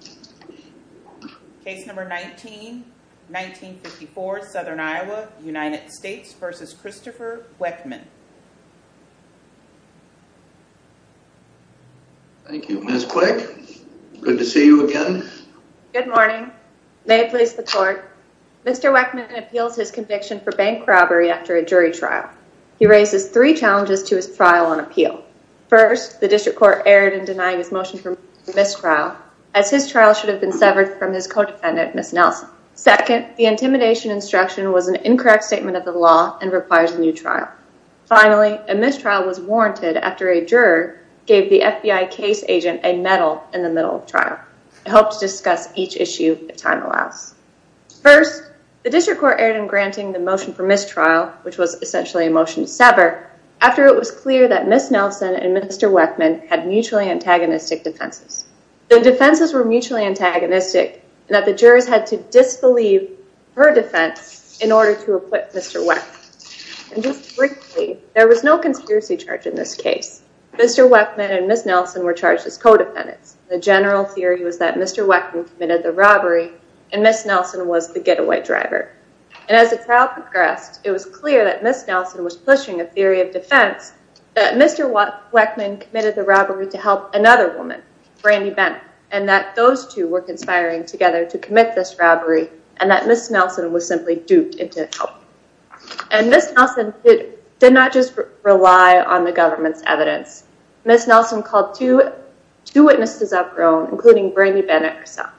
Good morning. May it please the court. Mr. Weckman appeals his conviction for bank robbery after a jury trial. He raises three challenges to his trial on appeal. First, the district trial should have been severed from his co-defendant, Ms. Nelson. Second, the intimidation instruction was an incorrect statement of the law and requires a new trial. Finally, a mistrial was warranted after a juror gave the FBI case agent a medal in the middle of trial. I hope to discuss each issue if time allows. First, the district court erred in granting the motion for mistrial, which was essentially a motion to sever, after it was clear that Ms. Nelson and Mr. Weckman had mutually antagonistic defenses. The defenses were mutually antagonistic and that the jurors had to disbelieve her defense in order to acquit Mr. Weckman. And just briefly, there was no conspiracy charge in this case. Mr. Weckman and Ms. Nelson were charged as co-defendants. The general theory was that Mr. Weckman committed the robbery and Ms. Nelson was the getaway driver. And as the trial progressed, it was clear that Ms. Nelson was pushing a theory of defense that Mr. Weckman committed the robbery to help another woman, Brandy Bennett, and that those two were conspiring together to commit this robbery and that Ms. Nelson was simply duped into helping. And Ms. Nelson did not just rely on the government's evidence. Ms. Nelson called two witnesses up her own, including Brandy Bennett herself.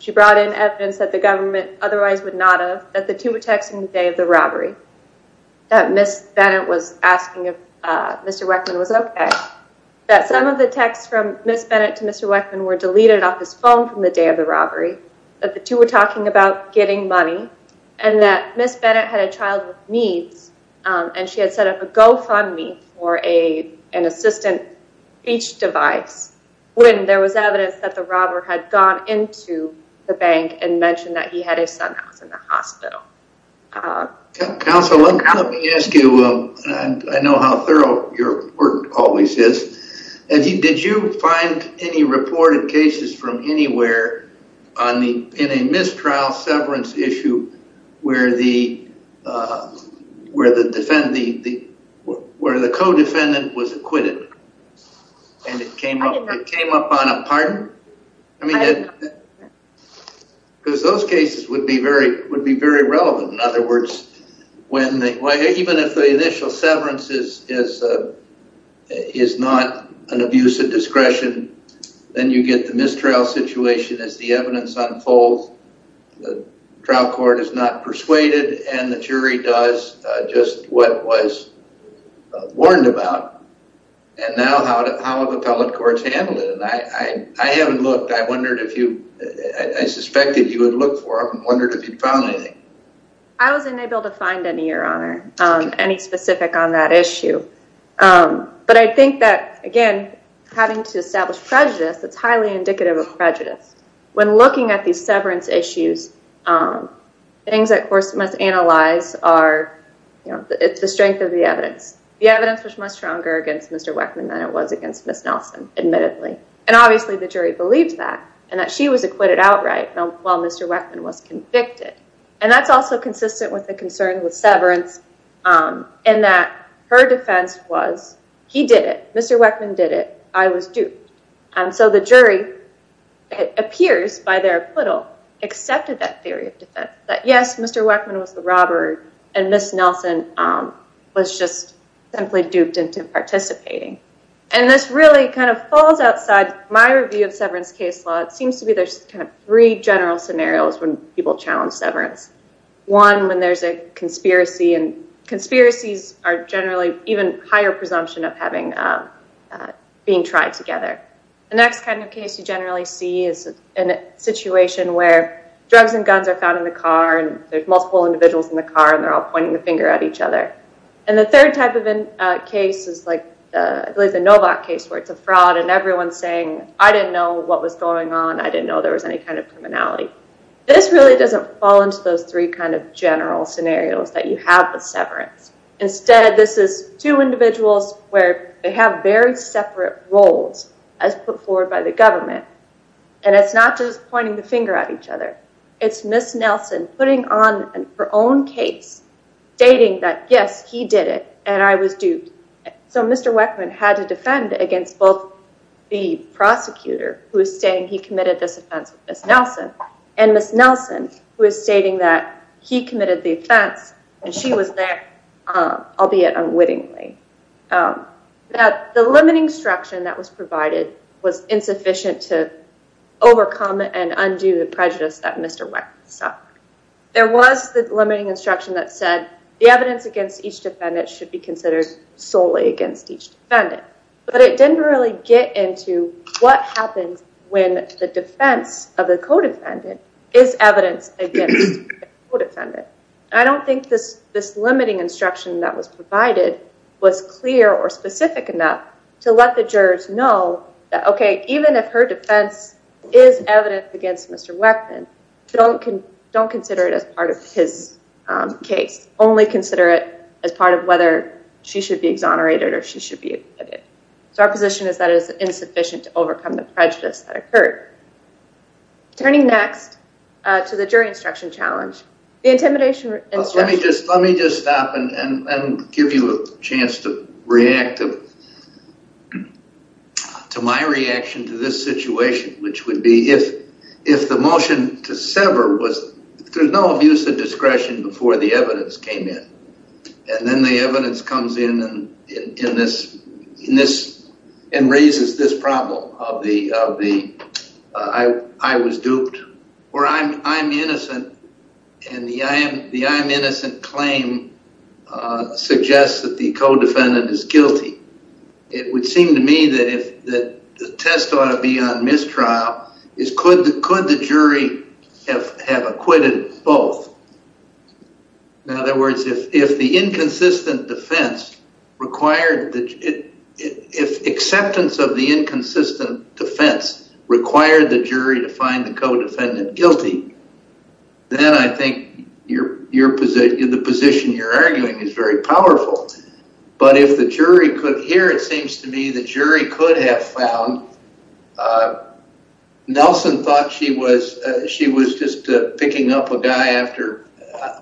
She brought in evidence that the government otherwise would not have, that the two were texting the day of the robbery, that Ms. Bennett was asking if Mr. Weckman was okay, that some of the texts from Ms. Bennett to Mr. Weckman were deleted off his phone from the day of the robbery, that the two were talking about getting money, and that Ms. Bennett had a child with needs and she had set up a GoFundMe for an assistant speech device when there was evidence that the robber had gone into the bank and mentioned that he had a son that was in the hospital. Counsel, let me ask you, I know how thorough your work always is, did you find any reported cases from anywhere in a mistrial severance issue where the co-defendant was acquitted and it came up on a pardon? Because those cases would be very relevant. In other words, even if the initial severance is not an abuse of discretion, then you get the mistrial situation as the evidence unfolds, the trial court is not persuaded, and the jury does just what it was warned about, and now how have appellate courts handled it? I haven't looked, I wondered if you, I suspected you would look for them and wondered if you found anything. I wasn't able to find any, your honor, any specific on that issue. But I think that, again, having to establish prejudice, it's highly indicative of prejudice. When looking at these severance issues, things that courts must analyze are, it's the strength of the evidence. The evidence was much stronger against Mr. Weckman than it was against Ms. Nelson, admittedly. And obviously the jury believed that, and that she was acquitted outright while Mr. Weckman was convicted. And that's also consistent with the concern with severance, in that her defense was, he did it, Mr. Weckman did it, I was duped. And so the jury appears, by their acquittal, accepted that theory of defense, that yes, Mr. Weckman was the robber, and Ms. Nelson was just simply duped into participating. And this really kind of falls outside my review of severance case law. It seems to me there's kind of three general scenarios when people challenge severance. One, when there's a conspiracy, and conspiracies are generally even higher presumption of having, being tried together. The next kind of case you generally see is in a situation where drugs and guns are found in the car, and there's multiple individuals in the car, and they're all pointing the finger at each other. And the third type of case is like, I believe the Novak case, where it's a fraud, and everyone's saying, I didn't know what was going on, I didn't know there was any kind of criminality. This really doesn't fall into those three kind general scenarios that you have with severance. Instead, this is two individuals where they have very separate roles, as put forward by the government. And it's not just pointing the finger at each other. It's Ms. Nelson putting on her own case, stating that yes, he did it, and I was duped. So Mr. Weckman had to defend against both the prosecutor, who is saying he committed the offense, and she was there, albeit unwittingly. The limiting instruction that was provided was insufficient to overcome and undo the prejudice that Mr. Weckman suffered. There was the limiting instruction that said the evidence against each defendant should be considered solely against each defendant. But it didn't really get into what happens when the defense of the co-defendant is evidence against the co-defendant. I don't think this limiting instruction that was provided was clear or specific enough to let the jurors know that, okay, even if her defense is evidence against Mr. Weckman, don't consider it as part of his case. Only consider it as part of whether she should be exonerated or she should be acquitted. So our position is that it is insufficient to overcome the prejudice that occurred. Turning next to the jury instruction challenge, the intimidation instruction. Let me just stop and give you a chance to react to my reaction to this situation, which would be if the motion to sever was, there's no abuse of discretion before the evidence came in, and then the evidence comes in and raises this problem of the I was duped, or I'm innocent, and the I'm innocent claim suggests that the co-defendant is guilty. It would seem to me that the test ought to be on mistrial. Could the jury have acquitted both? In other words, if the inconsistent defense required, if acceptance of the inconsistent defense required the jury to find the co-defendant guilty, then I think the position you're arguing is very powerful. But if the jury could, here it seems to me the jury could have found, Nelson thought she was just picking up a guy after,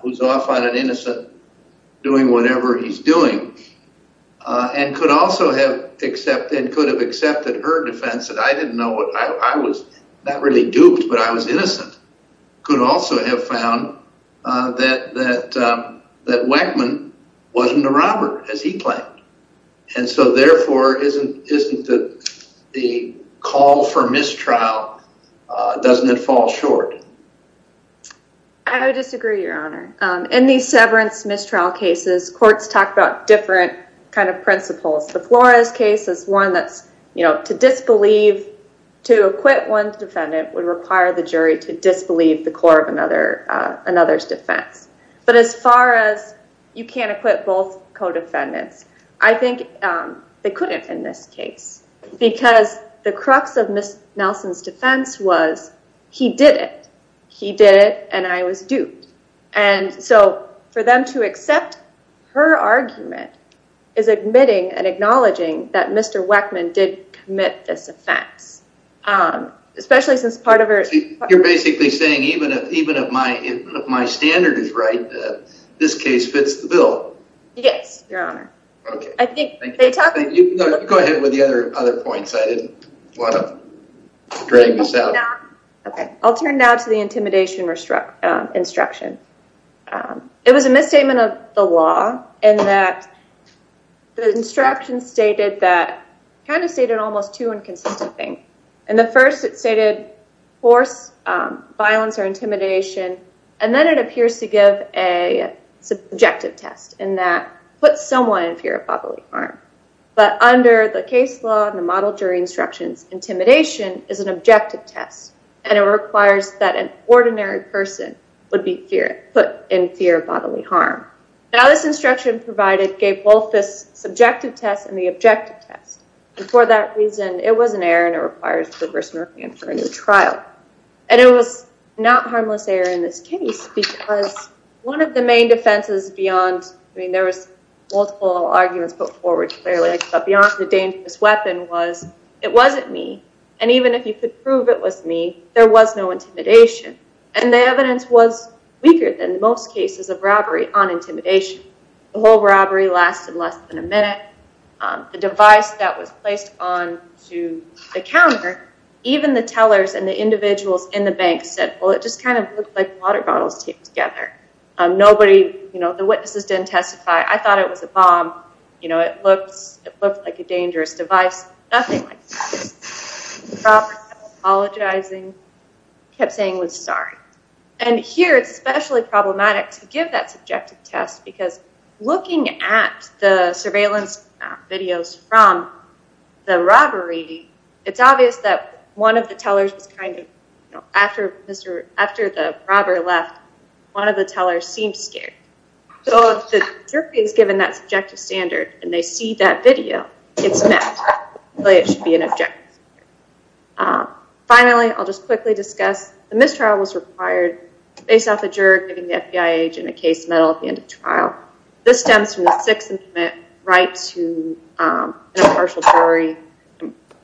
who's off on an innocent, doing whatever he's doing, and could have accepted her defense that I didn't know, I was not really duped, but I was innocent, could also have found that Wackman wasn't a robber, as he called for mistrial, doesn't it fall short? I would disagree, your honor. In these severance mistrial cases, courts talk about different kind of principles. The Flores case is one that's, you know, to disbelieve, to acquit one's defendant would require the jury to disbelieve the core of another's defense. But as far as you can't acquit both co-defendants, I think they couldn't in this because the crux of Ms. Nelson's defense was he did it, he did it, and I was duped. And so for them to accept her argument is admitting and acknowledging that Mr. Wackman did commit this offense, especially since part of her... You're basically saying even if my standard is right, this case fits the bill. Yes, your honor. Okay. Go ahead with the other other points. I didn't want to drag this out. Okay, I'll turn now to the intimidation instruction. It was a misstatement of the law in that the instruction stated that, kind of stated almost two inconsistent things. In the first, it stated force, violence, or intimidation, and then it appears to give a subjective test in that put someone in fear of bodily harm. But under the case law and the model jury instructions, intimidation is an objective test, and it requires that an ordinary person would be put in fear of bodily harm. Now, this instruction provided gave both this subjective test and the objective test. And for that reason, it was an error and it requires reverse north hand for a new trial. And it was not harmless error in this case because one of the main defenses beyond... I mean, there was multiple arguments put forward clearly, but beyond the dangerous weapon was it wasn't me. And even if you could prove it was me, there was no intimidation. And the evidence was weaker than most cases of robbery on intimidation. The whole robbery lasted less than a minute. The device that was placed onto the counter, even the tellers and the individuals in the bank said, well, it just kind of looked like water bottles taped together. Nobody, you know, the witnesses didn't testify. I thought it was a bomb. You know, it looked like a dangerous device. Nothing like that. The proper self-apologizing kept saying was sorry. And here, it's especially problematic to give that subjective test because looking at the surveillance videos from the robbery, it's obvious that one of the tellers was kind of, you know, after the robber left, one of the tellers seemed scared. So if the jury is given that subjective standard and they see that video, it's met. It should be an objective. Finally, I'll just quickly discuss the mistrial was required based off the juror giving the FBI agent a case medal at the end of trial. This stems from the sixth right to impartial jury,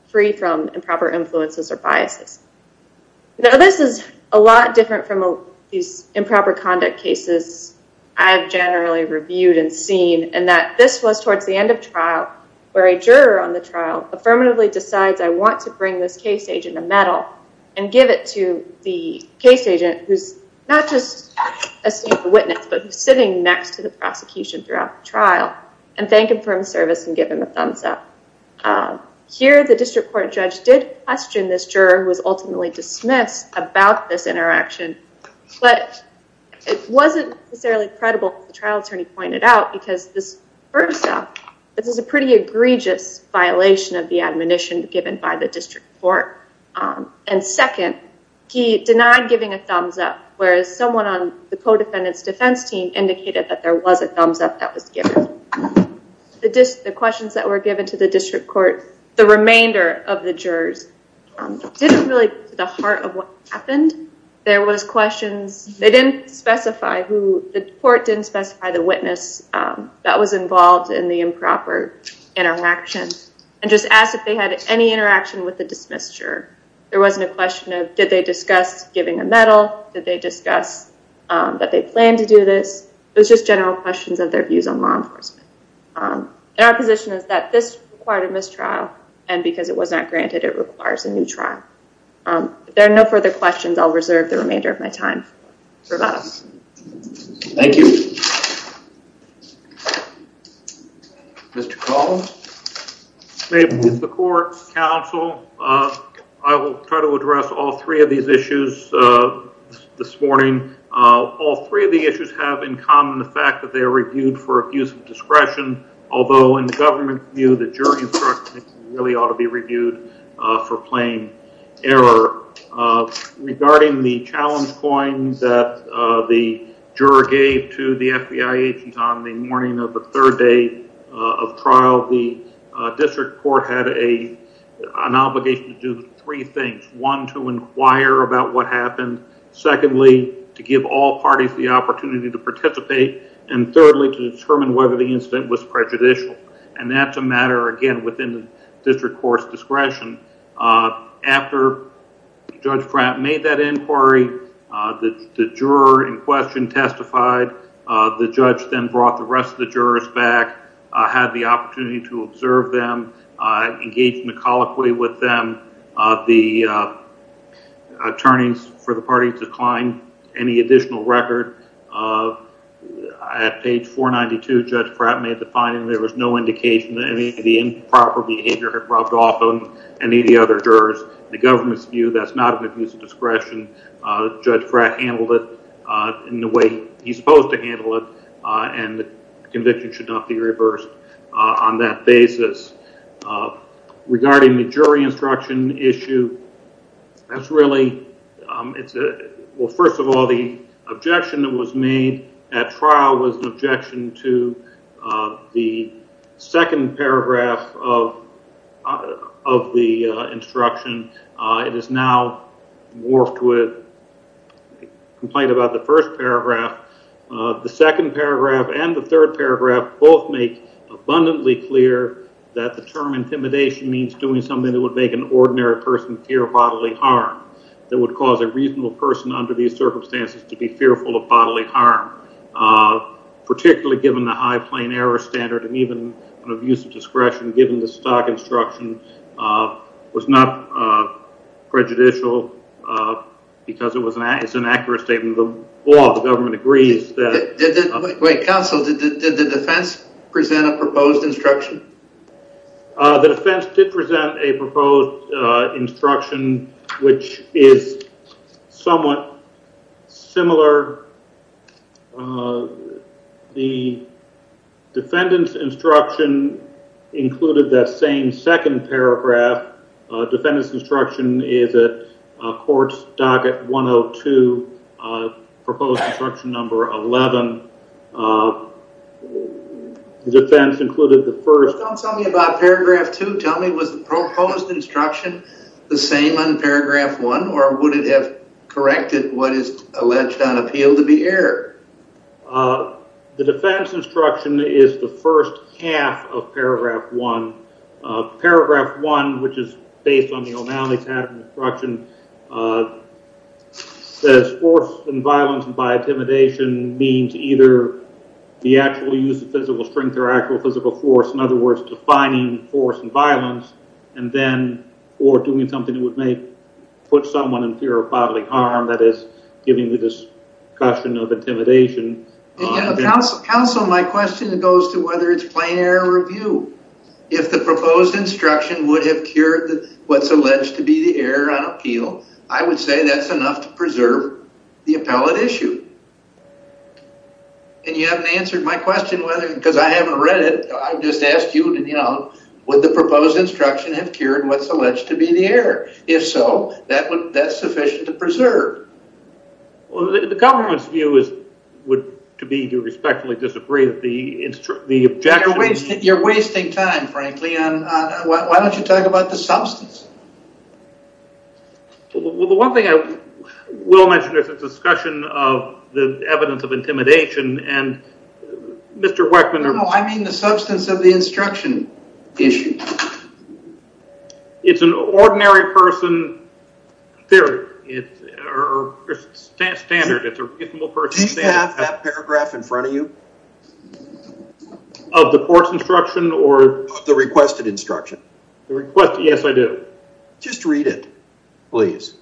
free from improper influences or biases. Now, this is a lot different from these improper conduct cases I've generally reviewed and seen, and that this was towards the end of trial where a juror on the trial affirmatively decides I want to bring this case agent a medal and give it to the case agent who's not just a witness, but sitting next to the prosecution throughout the trial and thank him for his service and give him a thumbs up. Here, the district court judge did question this juror who was ultimately dismissed about this interaction, but it wasn't necessarily credible. The trial attorney pointed out because first off, this is a pretty egregious violation of the admonition given by the district court, and second, he denied giving a thumbs up, whereas someone on the co-defendant's defense team indicated that there was a thumbs up that was given. The questions that were given to the district court, the remainder of the jurors didn't really get to the heart of what happened. There was questions, they didn't specify who, the court didn't specify the witness that was involved in the improper interaction and just asked if they had any interaction with the dismissed juror. There wasn't a question of did they discuss giving a medal? Did they discuss that they planned to do this? It was just general questions of their views on law enforcement. Our position is that this required a mistrial, and because it was not granted, it requires a trial. If there are no further questions, I'll reserve the remainder of my time. Thank you. Mr. Call? May it please the court, counsel, I will try to address all three of these issues this morning. All three of the issues have in common the fact that they are reviewed for abuse of discretion, although in the government's view, the jury instruction really ought to be reviewed for plain error. Regarding the challenge coins that the juror gave to the FBI agent on the morning of the third day of trial, the district court had an obligation to do three things. One, to inquire about what happened. Secondly, to give all parties the opportunity to participate. And thirdly, to determine whether the incident was prejudicial. And that's a matter, again, within the district court's discretion. After Judge Pratt made that inquiry, the juror in question testified. The judge then brought the rest of the jurors back, had the opportunity to observe them, engaged in a colloquy with them. The attorneys for the parties declined any additional record. At page 492, Judge Pratt made the finding there was no indication that any of the behavior had rubbed off on any of the other jurors. In the government's view, that's not an abuse of discretion. Judge Pratt handled it in the way he's supposed to handle it, and the conviction should not be reversed on that basis. Regarding the jury instruction issue, that's really, it's a, well, first of all, the objection that was made at trial was an objection to the second paragraph of the instruction. It is now morphed with a complaint about the first paragraph. The second paragraph and the third paragraph both make abundantly clear that the term intimidation means doing something that would make an ordinary person fear bodily harm, that would cause a reasonable person under these circumstances to be fearful of bodily harm, particularly given the high plain error standard and even an abuse of discretion, given the stock instruction, was not prejudicial because it was an accurate statement of the law. The government agrees that... Wait, counsel, did the defense present a proposed instruction? The defense did present a proposed instruction, which is somewhat similar. The defendant's instruction included that same second paragraph. Defendant's instruction is at court's docket 102, proposed instruction number 11. The defense included the first... Don't tell me about paragraph two. Tell me, was the proposed instruction the same on paragraph one, or would it have corrected what is alleged on appeal to be error? The defense instruction is the first half of paragraph one. Paragraph one, which is based on O'Malley's pattern instruction, says force and violence by intimidation means either the actual use of physical strength or actual physical force, in other words, defining force and violence, and then, or doing something that would make, put someone in fear of bodily harm, that is, giving the discussion of intimidation... Counsel, my question goes to whether it's to be the error on appeal. I would say that's enough to preserve the appellate issue. And you haven't answered my question, because I haven't read it. I've just asked you, you know, would the proposed instruction have cured what's alleged to be the error? If so, that's sufficient to preserve. Well, the government's view is, would to be to respectfully disagree with the objection... You're wasting time, frankly. Why don't you talk about the substance? Well, the one thing I will mention is the discussion of the evidence of intimidation, and Mr. Weckman... No, I mean the substance of the instruction issue. It's an ordinary person theory, or standard, it's a reasonable person... Do you have that paragraph in front of you? Of the court's instruction, or... The requested instruction. The requested... Yes, I do. Just read it, please.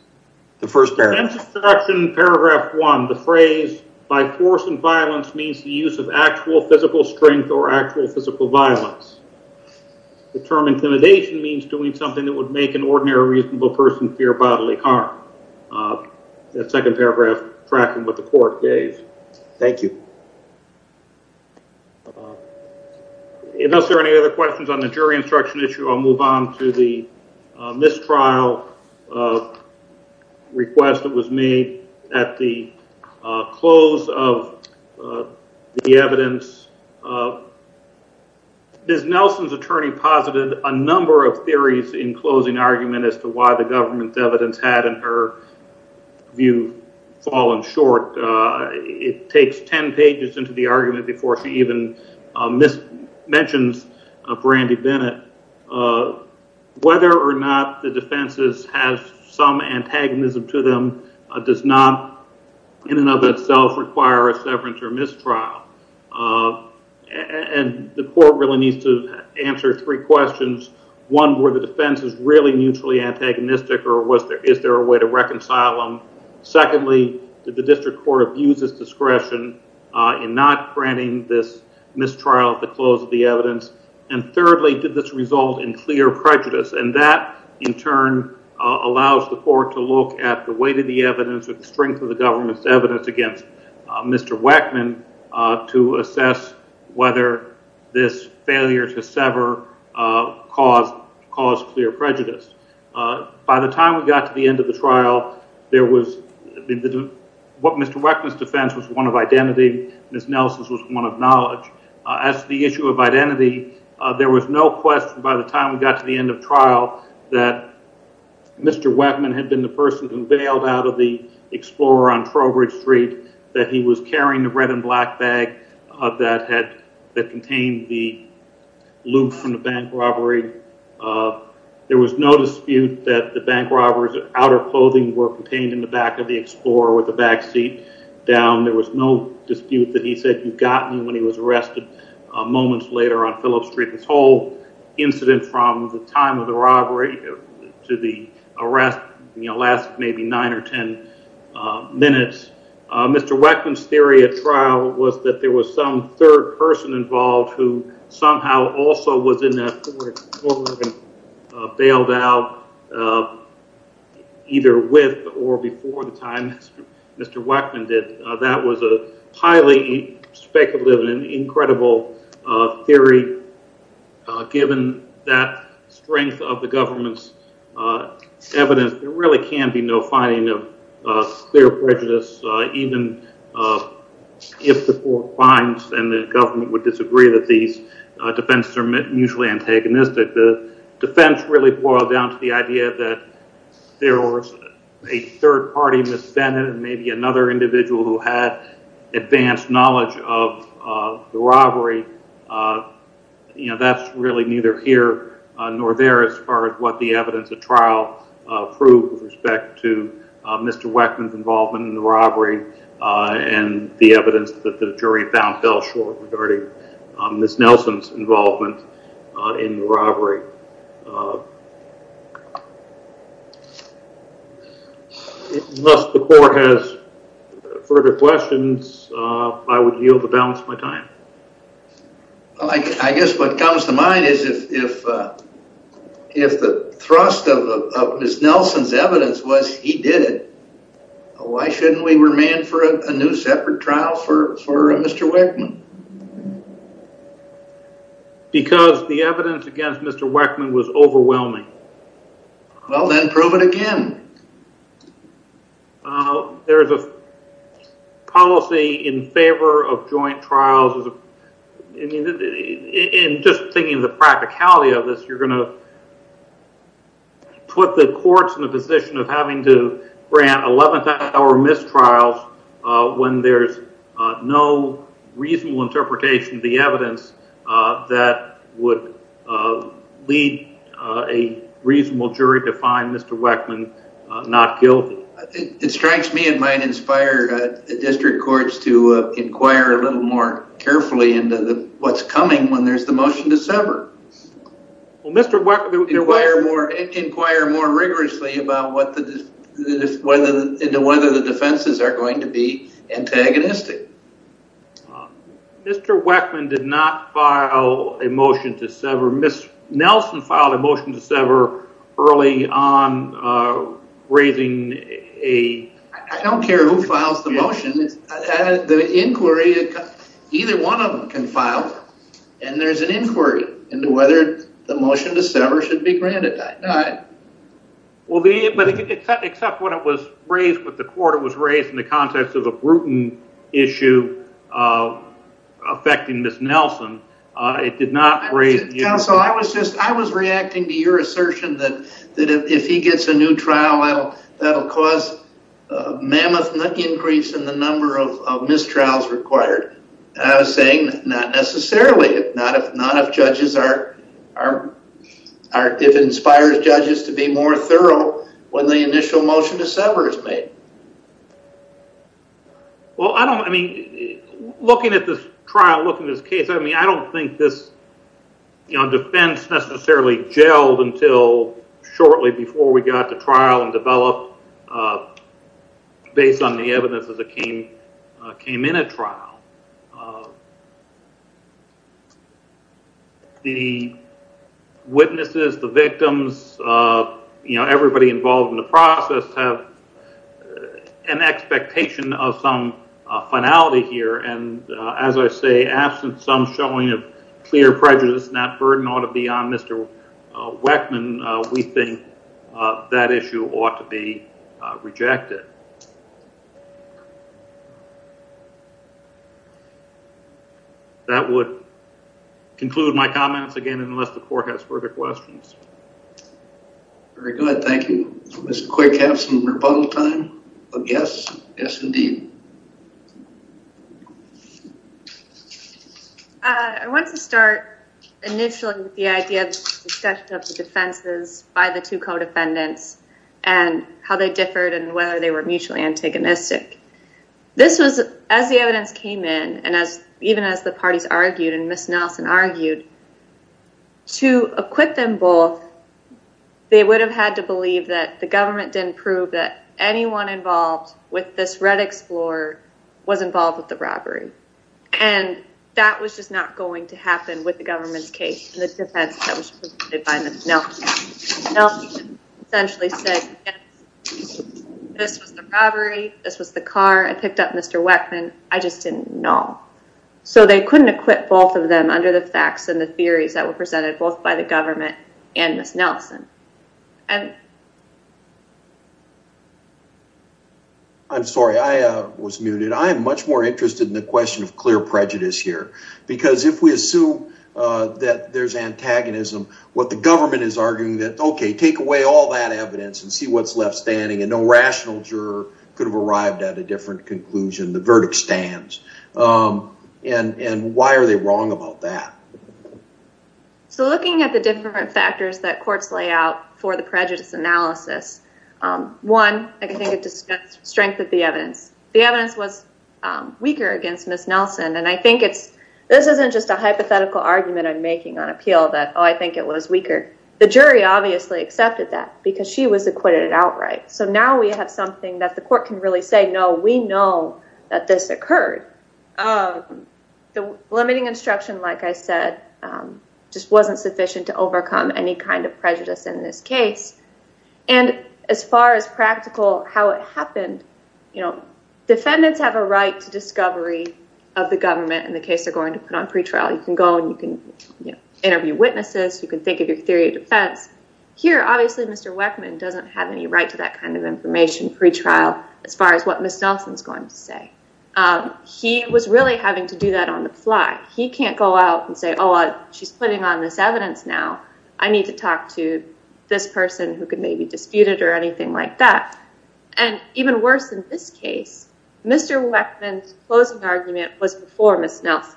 The first paragraph. In paragraph one, the phrase, by force and violence, means the use of actual physical strength or actual physical violence. The term intimidation means doing something that would make an ordinary reasonable person fear bodily harm. That second paragraph, tracking what the court gave. Thank you. If there's any other questions on the jury instruction issue, I'll move on to the mistrial request that was made at the close of the evidence. Ms. Nelson's attorney posited a number of theories in closing argument as to why the government's evidence had, in her view, fallen short. It takes 10 pages into the argument before she even mentions Brandy Bennett. Whether or not the defense has some antagonism to them does not, in and of itself, require a severance or mistrial. The court really needs to answer three questions. One, were the defenses really mutually antagonistic, or is there a way to reconcile them? Secondly, did the district court abuse its discretion in not granting this mistrial at the close of the evidence? Thirdly, did this result in clear prejudice? That, in turn, allows the court to look at the weight of the evidence, the strength of the government's evidence against Mr. Weckman, to assess whether this failure to sever caused clear prejudice. By the time we got to the end of the trial, Mr. Weckman's defense was one of identity. Ms. Nelson's was one of knowledge. As to the issue of identity, there was no question by the time we got to the end of trial that Mr. Weckman had been the person who bailed out of the Explorer on Trowbridge Street, that he was carrying the red and black bag that contained the lube from the bank robbery. There was no dispute that the bank robber's outer clothing were contained in the back of the Explorer with the back seat down. There was no dispute that he said, you got me, when he was arrested moments later on Phillips Street. This whole incident, from the time of the robbery to the arrest, last maybe nine or ten minutes. Mr. Weckman's theory at trial was that there was some third person involved who somehow also was in that Explorer and bailed out either with or before the time Mr. Weckman did. That was a highly speculative and incredible theory, given that strength of the government's can be no finding of clear prejudice, even if the court finds and the government would disagree that these defenses are mutually antagonistic. The defense really boiled down to the idea that there was a third party misdemeanor, maybe another individual who had advanced knowledge of the to Mr. Weckman's involvement in the robbery, and the evidence that the jury found fell short regarding Ms. Nelson's involvement in the robbery. Unless the court has further questions, I would yield the balance of my time. I guess what comes to mind is if the thrust of Ms. Nelson's evidence was he did it, why shouldn't we remand for a new separate trial for Mr. Weckman? Because the evidence against Mr. Weckman was overwhelming. Well, then prove it again. There's a policy in favor of joint trials, and just thinking of the practicality of this, you're going to put the courts in a position of having to grant 11th hour mistrials when there's no reasonable interpretation of the evidence that would lead a reasonable jury to find Mr. Weckman not guilty. It strikes me and might inspire the district courts to inquire a little more Mr. Weckman. Inquire more rigorously about whether the defenses are going to be antagonistic. Mr. Weckman did not file a motion to sever. Ms. Nelson filed a motion to sever early on raising a... I don't care who files the motion. The inquiry, either one of them can file, and there's an inquiry into whether the motion to sever should be granted. Except when it was raised with the court, it was raised in the context of a Bruton issue affecting Ms. Nelson. It did not raise... Counsel, I was reacting to your assertion that if he gets a new trial, that'll cause a mammoth increase in the number of mistrials required. I was saying not necessarily, if it inspires judges to be more thorough when the initial motion to sever is made. Looking at this trial, looking at this case, I don't think this defense necessarily gelled until shortly before we got to trial and developed based on the evidence as it came in a trial. The witnesses, the victims, everybody involved in the process have an expectation of some finality here. As I say, absent some showing of clear prejudice, that burden ought to be on Mr. Weckman. We think that issue ought to be rejected. That would conclude my comments again, unless the court has further questions. Very good. Thank you. Let's quick have some rebuttal time of yes. Yes, indeed. I want to start initially with the idea of the defenses by the two co-defendants and how they differed and whether they were mutually antagonistic. This was, as the evidence came in, and even as the parties argued and Ms. Nelson argued, to acquit them both, they would have had to believe that the government didn't prove that was involved with the robbery. That was just not going to happen with the government's case. Nelson essentially said, this was the robbery, this was the car, I picked up Mr. Weckman, I just didn't know. They couldn't acquit both of them under the facts and the theories that were presented both by the government and Ms. Nelson. And I'm sorry, I was muted. I'm much more interested in the question of clear prejudice here. Because if we assume that there's antagonism, what the government is arguing that okay, take away all that evidence and see what's left standing and no rational juror could have arrived at a different conclusion, the verdict stands. And why are they wrong about that? So looking at the different factors that courts lay out for the prejudice analysis, one, I think it strengthens the evidence. The evidence was weaker against Ms. Nelson. And I think it's, this isn't just a hypothetical argument I'm making on appeal that, oh, I think it was weaker. The jury obviously accepted that because she was acquitted outright. So now we have something that the court can really say, no, we know that this occurred. The limiting instruction, like I said, just wasn't sufficient to overcome any kind of prejudice in this case. And as far as practical, how it happened, defendants have a right to discovery of the government in the case they're going to put on pretrial. You can go and you can interview witnesses. You can think of your theory of defense. Here, obviously, Mr. Weckman doesn't have any right to that kind of information pretrial as far as what Ms. Nelson's going to say. He was really having to do that on the fly. He can't go out and say, oh, she's putting on this evidence now. I need to talk to this person who could maybe dispute it or anything like that. And even worse in this case, Mr. Weckman's closing argument was before Ms. Nelson.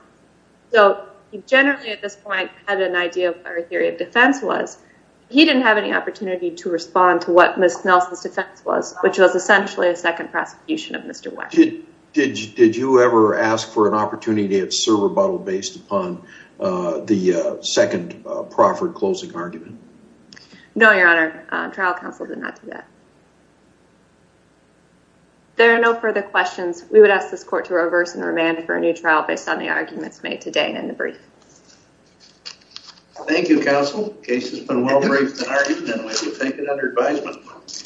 So he generally at this point had an idea of what her theory of defense was. He didn't have any opportunity to respond to what Ms. Nelson's defense was, which was essentially a second prosecution of Mr. Weckman. Did you ever ask for an opportunity at serve or bottle based upon the second proffered closing argument? No, Your Honor. Trial counsel did not do that. There are no further questions. We would ask this court to reverse and remand for a new trial based on the arguments made today and in the brief. Thank you, counsel. Case has been well-briefed in argument and we will take it under advisement.